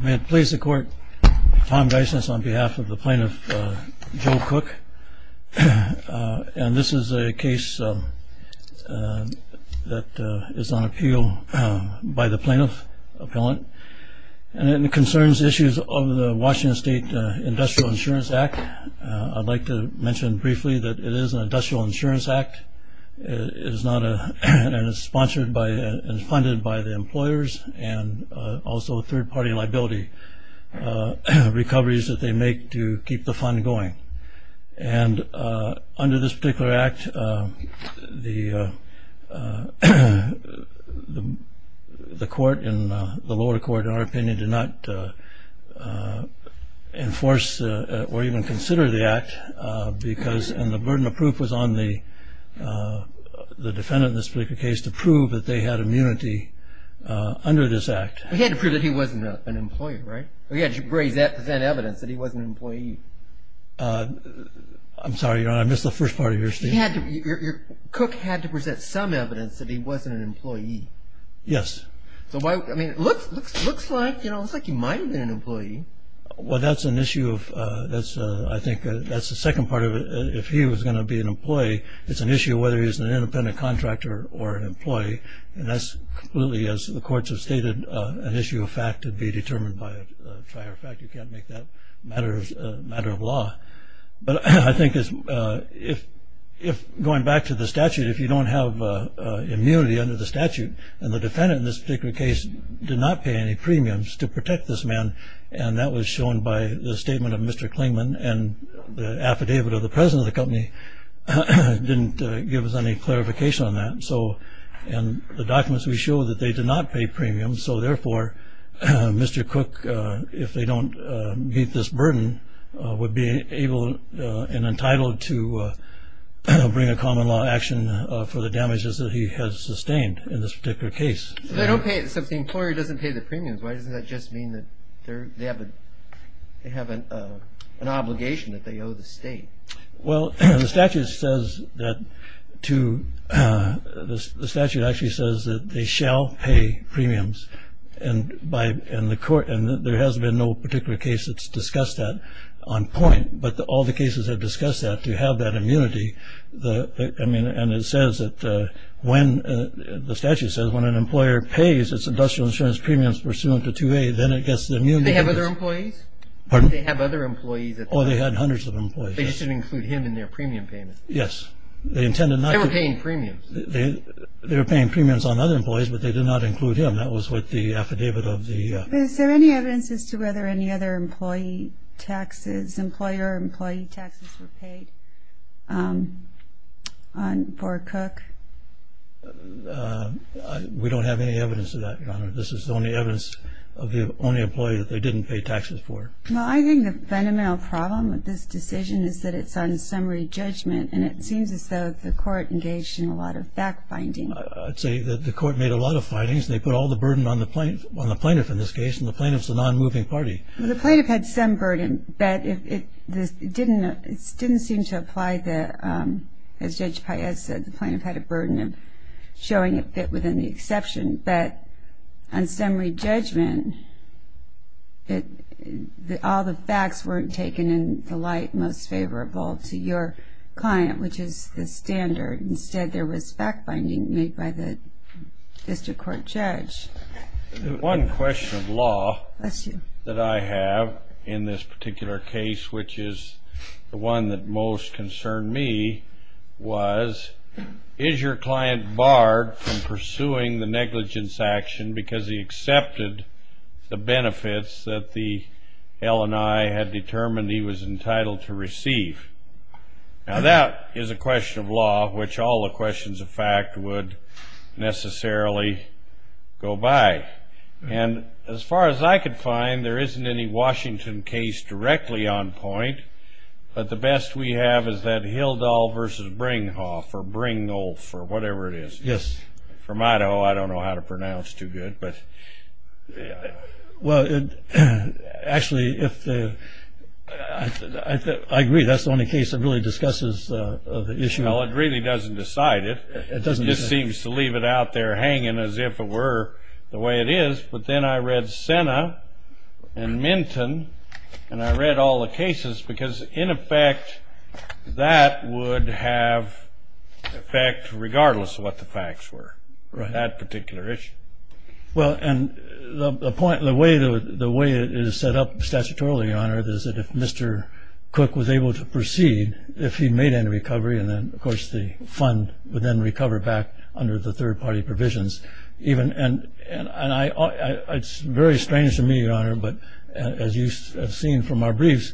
May it please the court, Tom Dyson is on behalf of the plaintiff, Joe Cook, and this is a case that is on appeal by the plaintiff appellant and it concerns issues of the Washington State Industrial Insurance Act. I'd like to mention briefly that it is an industrial insurance act and it's funded by the employers and also third party liability recoveries that they make to keep the fund going. And under this particular act, the court and the lower court, in our opinion, did not enforce or even consider the act because the burden of proof was on the defendant in this particular case to prove that they had immunity under this act. He had to prove that he wasn't an employee, right? He had to present evidence that he wasn't an employee. I'm sorry, Your Honor, I missed the first part of your statement. Cook had to present some evidence that he wasn't an employee. Yes. Well, that's an issue of, I think that's the second part of it. If he was going to be an employee, it's an issue of whether he's an independent contractor or an employee. And that's completely, as the courts have stated, an issue of fact to be determined by a prior fact. You can't make that a matter of law. But I think going back to the statute, if you don't have immunity under the statute and the defendant in this particular case did not pay any premiums to protect this man, and that was shown by the statement of Mr. Klingman and the affidavit of the president of the company didn't give us any clarification on that. And the documents we show that they did not pay premiums. So, therefore, Mr. Cook, if they don't meet this burden, would be able and entitled to bring a common law action for the damages that he has sustained in this particular case. So if the employer doesn't pay the premiums, why doesn't that just mean that they have an obligation that they owe the state? Well, the statute actually says that they shall pay premiums. And there has been no particular case that's discussed that on point. But all the cases have discussed that to have that immunity. And it says that when an employer pays its industrial insurance premiums pursuant to 2A, then it gets the immunity. Do they have other employees? Pardon? Do they have other employees? Oh, they had hundreds of employees. They should include him in their premium payments. Yes. They intended not to. They were paying premiums. They were paying premiums on other employees, but they did not include him. That was what the affidavit of the... Is there any evidence as to whether any other employee taxes, employer or employee taxes were paid for Cook? We don't have any evidence of that, Your Honor. This is the only evidence of the only employee that they didn't pay taxes for. Well, I think the fundamental problem with this decision is that it's on summary judgment, and it seems as though the court engaged in a lot of fact-finding. I'd say that the court made a lot of findings. They put all the burden on the plaintiff in this case, and the plaintiff's the non-moving party. Well, the plaintiff had some burden, but it didn't seem to apply the... As Judge Paez said, the plaintiff had a burden of showing it fit within the exception. But on summary judgment, all the facts weren't taken in the light most favorable to your client, which is the standard. Instead, there was fact-finding made by the district court judge. One question of law that I have in this particular case, which is the one that most concerned me, was, is your client barred from pursuing the negligence action because he accepted the benefits that the L&I had determined he was entitled to receive? Now, that is a question of law which all the questions of fact would necessarily go by. And as far as I could find, there isn't any Washington case directly on point, but the best we have is that Hildahl v. Bringhoff, or Bringhoff, or whatever it is. Yes. From Idaho, I don't know how to pronounce too good, but... Well, actually, if the... I agree, that's the only case that really discusses the issue. Well, it really doesn't decide it. It doesn't. It just seems to leave it out there hanging as if it were the way it is. But then I read Sena and Minton, and I read all the cases because, in effect, that would have effect regardless of what the facts were on that particular issue. Well, and the way it is set up statutorily, Your Honor, is that if Mr. Cook was able to proceed, if he made any recovery, and then, of course, the fund would then recover back under the third-party provisions. And it's very strange to me, Your Honor, but as you have seen from our briefs,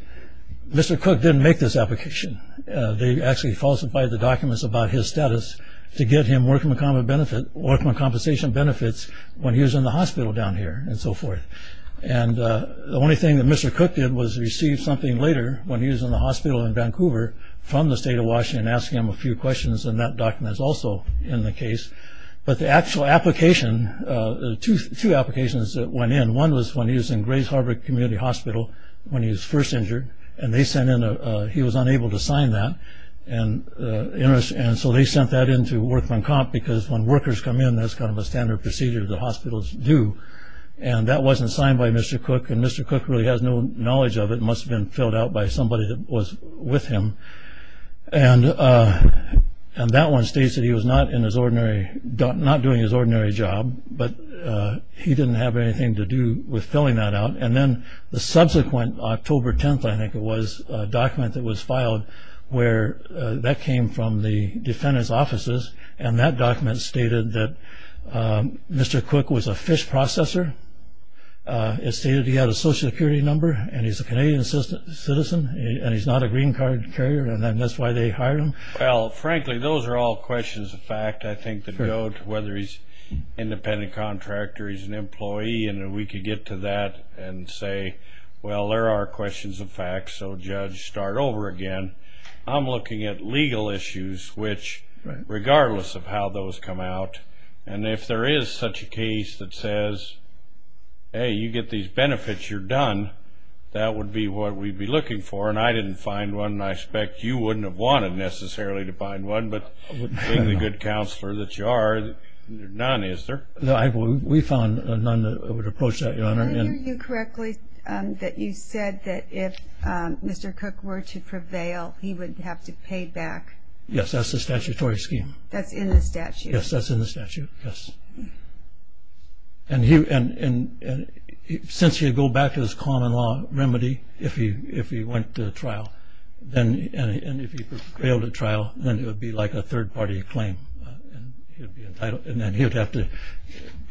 Mr. Cook didn't make this application. They actually falsified the documents about his status to get him workman compensation benefits when he was in the hospital down here and so forth. And the only thing that Mr. Cook did was receive something later, when he was in the hospital in Vancouver from the state of Washington, asking him a few questions, and that document is also in the case. But the actual application, two applications went in. One was when he was in Grays Harbor Community Hospital when he was first injured, and he was unable to sign that, and so they sent that in to workman comp because when workers come in, that's kind of a standard procedure that hospitals do. And that wasn't signed by Mr. Cook, and Mr. Cook really has no knowledge of it. It must have been filled out by somebody that was with him. And that one states that he was not doing his ordinary job, but he didn't have anything to do with filling that out. And then the subsequent October 10th, I think it was, a document that was filed where that came from the defendant's offices, and that document stated that Mr. Cook was a fish processor. It stated he had a Social Security number and he's a Canadian citizen and he's not a green card carrier, and that's why they hired him. Well, frankly, those are all questions of fact, I think, that go to whether he's an independent contractor, he's an employee, and we could get to that and say, well, there are questions of fact, so judge, start over again. I'm looking at legal issues which, regardless of how those come out, and if there is such a case that says, hey, you get these benefits, you're done, that would be what we'd be looking for, and I didn't find one, and I suspect you wouldn't have wanted necessarily to find one, but being the good counselor that you are, there are none, is there? No, we found none that would approach that, Your Honor. I hear you correctly that you said that if Mr. Cook were to prevail, he would have to pay back. Yes, that's the statutory scheme. That's in the statute. Yes, that's in the statute, yes. And since he would go back to his common law remedy if he went to trial, and if he failed at trial, then it would be like a third-party claim, and then he would have to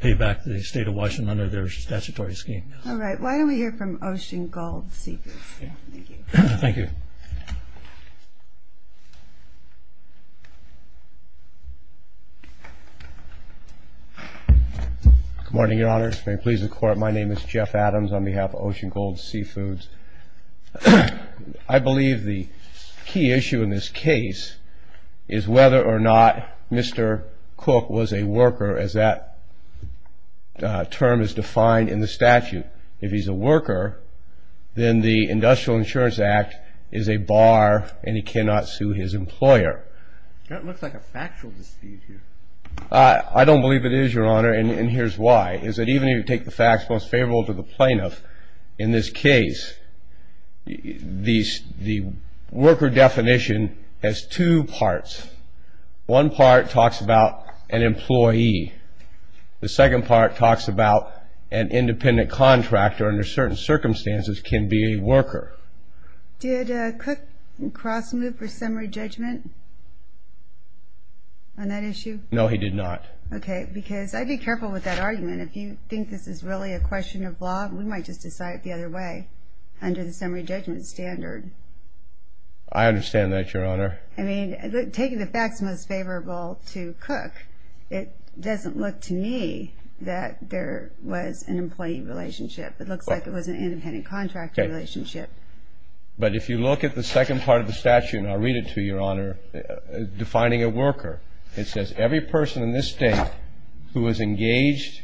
pay back the state of Washington under their statutory scheme. All right, why don't we hear from Ocean Gold Seekers? Thank you. Thank you. Good morning, Your Honor. May it please the Court, my name is Jeff Adams on behalf of Ocean Gold Seafoods. I believe the key issue in this case is whether or not Mr. Cook was a worker, as that term is defined in the statute. If he's a worker, then the Industrial Insurance Act is a bar, and he cannot sue his employer. That looks like a factual dispute here. I don't believe it is, Your Honor, and here's why, is that even if you take the facts most favorable to the plaintiff, in this case the worker definition has two parts. One part talks about an employee. The second part talks about an independent contractor under certain circumstances can be a worker. Did Cook cross-move for summary judgment on that issue? No, he did not. Okay, because I'd be careful with that argument. If you think this is really a question of law, we might just decide it the other way under the summary judgment standard. I understand that, Your Honor. I mean, taking the facts most favorable to Cook, it doesn't look to me that there was an employee relationship. It looks like it was an independent contractor relationship. But if you look at the second part of the statute, and I'll read it to you, Your Honor, defining a worker, it says every person in this state who is engaged,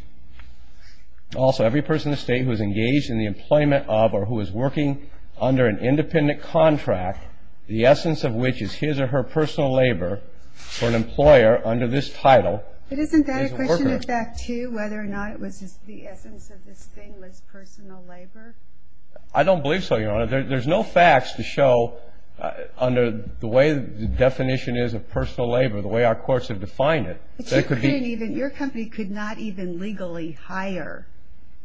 also every person in the state who is engaged in the employment of or who is working under an independent contract, the essence of which is his or her personal labor for an employer under this title. But isn't that a question of fact, too, whether or not it was just the essence of this thing was personal labor? I don't believe so, Your Honor. There's no facts to show under the way the definition is of personal labor, the way our courts have defined it. Your company could not even legally hire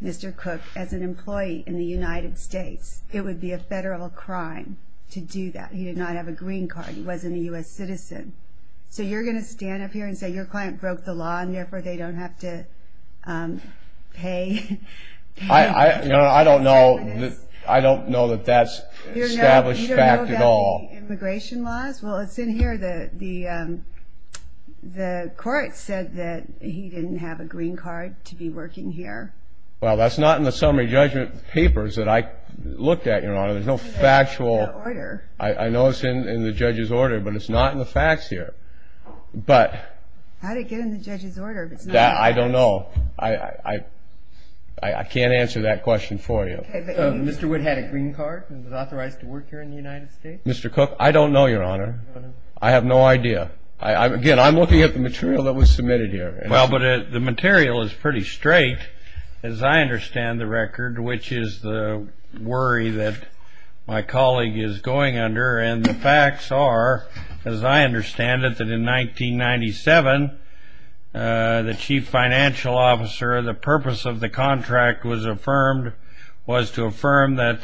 Mr. Cook as an employee in the United States. It would be a federal crime to do that. He did not have a green card. He wasn't a U.S. citizen. So you're going to stand up here and say your client broke the law and therefore they don't have to pay? I don't know that that's established fact at all. You don't know about the immigration laws? Well, it's in here. The court said that he didn't have a green card to be working here. Well, that's not in the summary judgment papers that I looked at, Your Honor. There's no factual order. I know it's in the judge's order, but it's not in the facts here. How did it get in the judge's order if it's not in the facts? I don't know. I can't answer that question for you. Mr. Wood had a green card and was authorized to work here in the United States? Mr. Cook, I don't know, Your Honor. I have no idea. Again, I'm looking at the material that was submitted here. Well, but the material is pretty straight, as I understand the record, which is the worry that my colleague is going under, and the facts are, as I understand it, that in 1997, the chief financial officer, the purpose of the contract was to affirm that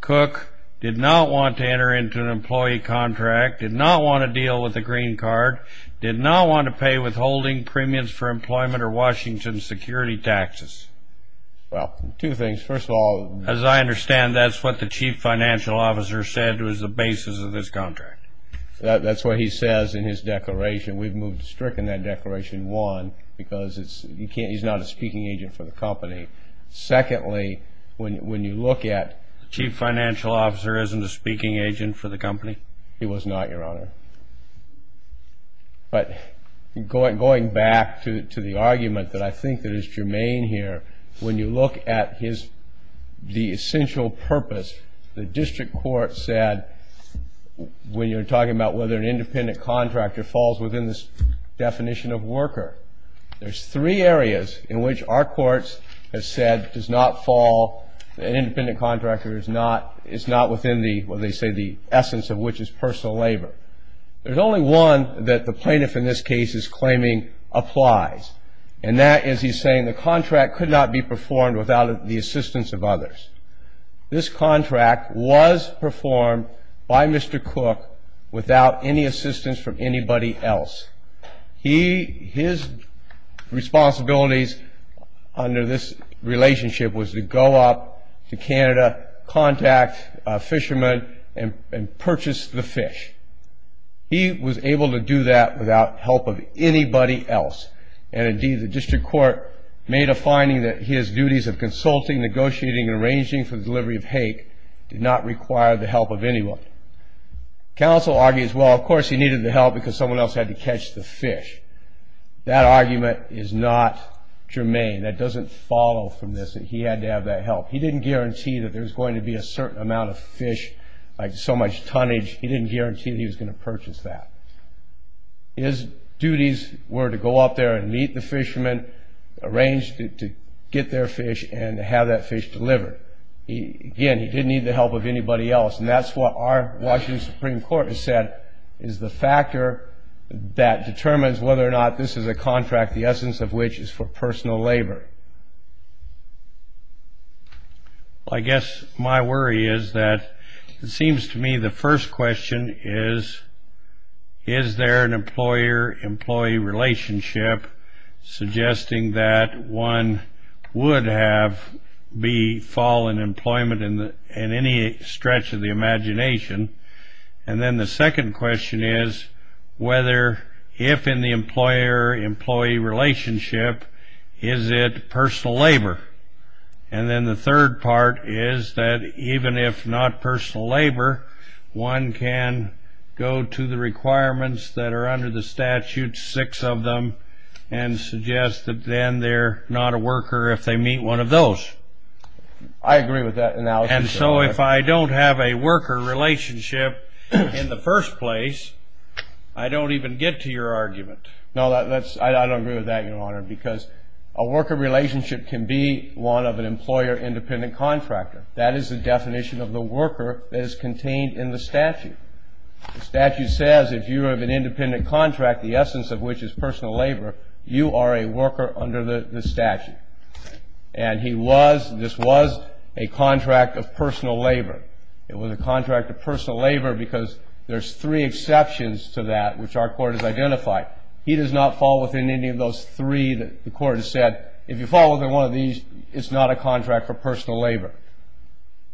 Cook did not want to enter into an employee contract, did not want to deal with a green card, did not want to pay withholding premiums for employment or Washington security taxes. Well, two things. First of all, As I understand, that's what the chief financial officer said was the basis of this contract. That's what he says in his declaration. We've stricken that declaration, one, because he's not a speaking agent for the company. Secondly, when you look at The chief financial officer isn't a speaking agent for the company? He was not, Your Honor. But going back to the argument that I think is germane here, when you look at the essential purpose, the district court said, when you're talking about whether an independent contractor falls within this definition of worker, there's three areas in which our courts have said does not fall, an independent contractor is not within the, well, they say the essence of which is personal labor. There's only one that the plaintiff in this case is claiming applies, and that is he's saying the contract could not be performed without the assistance of others. This contract was performed by Mr. Cook without any assistance from anybody else. His responsibilities under this relationship was to go up to Canada, contact a fisherman, and purchase the fish. He was able to do that without help of anybody else. And, indeed, the district court made a finding that his duties of consulting, negotiating, and arranging for the delivery of hake did not require the help of anyone. Counsel argues, well, of course he needed the help because someone else had to catch the fish. That argument is not germane. That doesn't follow from this, that he had to have that help. He didn't guarantee that there was going to be a certain amount of fish, like so much tonnage. He didn't guarantee that he was going to purchase that. His duties were to go up there and meet the fisherman, arrange to get their fish, and have that fish delivered. Again, he didn't need the help of anybody else. And that's what our Washington Supreme Court has said is the factor that determines whether or not this is a contract, the essence of which is for personal labor. Well, I guess my worry is that it seems to me the first question is, is there an employer-employee relationship suggesting that one would have fallen employment in any stretch of the imagination? And then the second question is, if in the employer-employee relationship, is it personal labor? And then the third part is that even if not personal labor, one can go to the requirements that are under the statute, six of them, and suggest that then they're not a worker if they meet one of those. I agree with that analysis. And so if I don't have a worker relationship in the first place, I don't even get to your argument. No, I don't agree with that, Your Honor, because a worker relationship can be one of an employer-independent contractor. That is the definition of the worker that is contained in the statute. The statute says if you have an independent contract, the essence of which is personal labor, you are a worker under the statute. And this was a contract of personal labor. It was a contract of personal labor because there's three exceptions to that, which our court has identified. He does not fall within any of those three that the court has said. If you fall within one of these, it's not a contract for personal labor.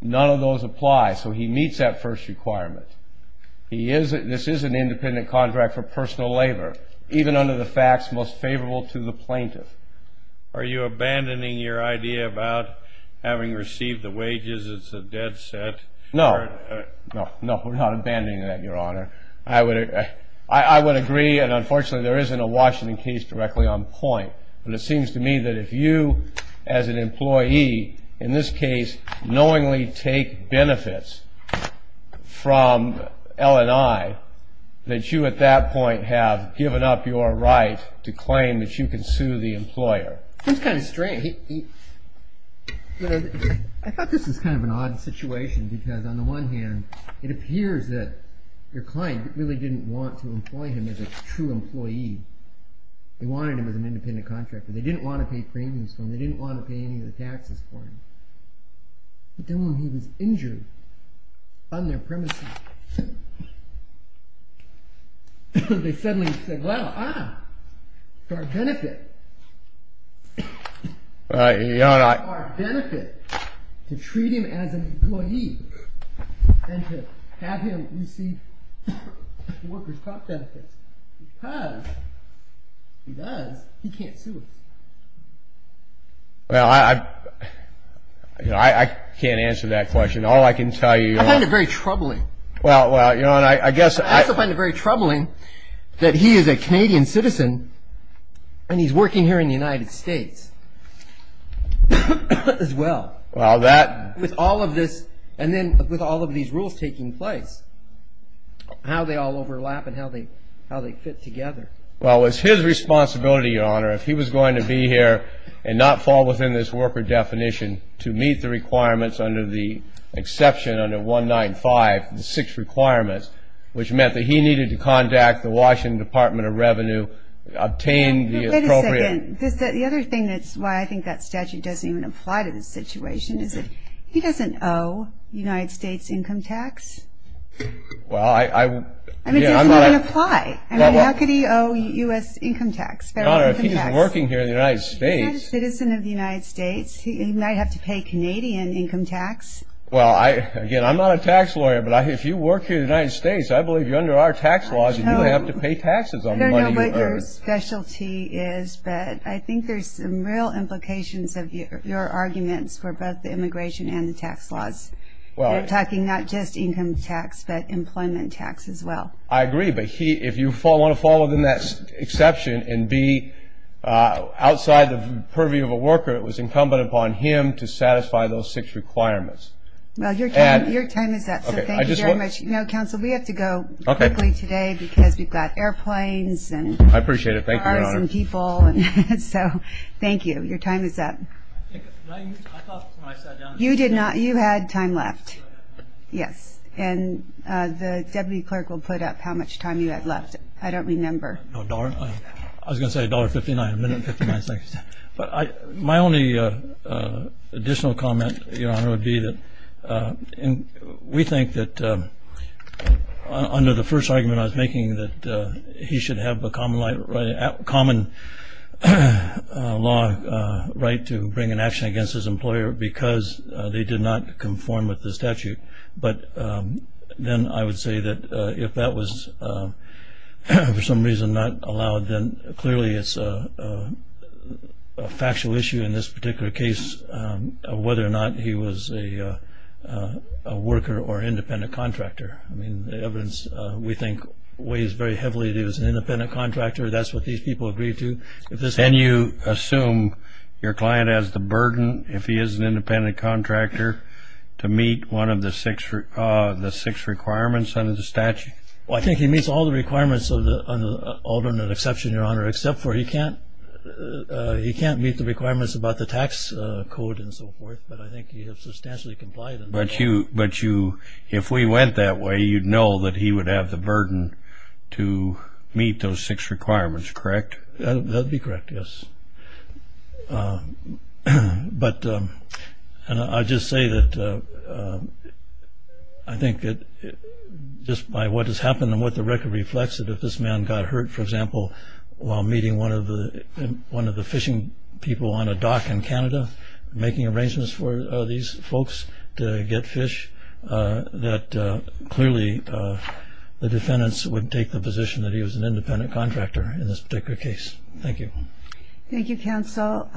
None of those apply, so he meets that first requirement. This is an independent contract for personal labor, even under the facts most favorable to the plaintiff. Are you abandoning your idea about having received the wages as a dead set? No. No, we're not abandoning that, Your Honor. I would agree, and unfortunately there isn't a Washington case directly on point, but it seems to me that if you, as an employee, in this case, knowingly take benefits from L&I, that you at that point have given up your right to claim that you can sue the employer. Seems kind of strange. I thought this was kind of an odd situation because, on the one hand, it appears that your client really didn't want to employ him as a true employee. They wanted him as an independent contractor. They didn't want to pay premiums for him. They didn't want to pay any of the taxes for him. But then when he was injured on their premises, they took our benefit to treat him as an employee and to have him receive workers' comp benefits. Because, if he does, he can't sue us. Well, I can't answer that question. All I can tell you, Your Honor, I find it very troubling. Well, Your Honor, I guess I also find it very troubling that he is a Canadian citizen and he's working here in the United States as well. Well, that With all of this and then with all of these rules taking place, how they all overlap and how they fit together. Well, it's his responsibility, Your Honor, if he was going to be here and not fall within this worker definition to meet the requirements under the exception under 195, the six requirements, which meant that he needed to contact the Washington Department of Revenue, obtain the appropriate Wait a second. The other thing that's why I think that statute doesn't even apply to this situation is that he doesn't owe United States income tax. Well, I I mean, it doesn't even apply. I mean, how could he owe U.S. income tax, federal income tax? Your Honor, if he's working here in the United States He's a citizen of the United States. He might have to pay Canadian income tax. Well, again, I'm not a tax lawyer, but if you work here in the United States, I believe you're under our tax laws. You don't have to pay taxes on the money you earn. I don't know what your specialty is, but I think there's some real implications of your arguments for both the immigration and the tax laws. You're talking not just income tax, but employment tax as well. I agree. But if you want to fall within that exception and be outside the purview of a worker, it was incumbent upon him to satisfy those six requirements. Well, your time is up. Thank you very much. You know, counsel, we have to go quickly today because we've got airplanes and cars and people. I appreciate it. Thank you, Your Honor. So, thank you. Your time is up. I thought when I sat down... You did not. You had time left. Yes. And the deputy clerk will put up how much time you had left. I don't remember. I was going to say $1.59 a minute and 59 seconds. My only additional comment, Your Honor, would be that we think that under the first argument I was making that he should have a common law right to bring an action against his employer because they did not conform with the statute. But then I would say that if that was for some reason not allowed, then clearly it's a factual issue in this particular case of whether or not he was a worker or independent contractor. I mean, the evidence, we think, weighs very heavily that he was an independent contractor. That's what these people agreed to. Can you assume your client has the burden, if he is an independent contractor, to meet one of the six requirements under the statute? Well, I think he meets all the requirements under the alternate exception, Your Honor, except for he can't meet the requirements about the tax code and so forth. But I think he has substantially complied. But if we went that way, you'd know that he would have the burden to meet those six requirements, correct? That would be correct, yes. But I'll just say that I think just by what has happened and what the record reflects that if this man got hurt, for example, while meeting one of the fishing people on a dock in Canada, making arrangements for these folks to get fish, that clearly the defendants would take the position that he was an independent contractor in this particular case. Thank you. Thank you, counsel.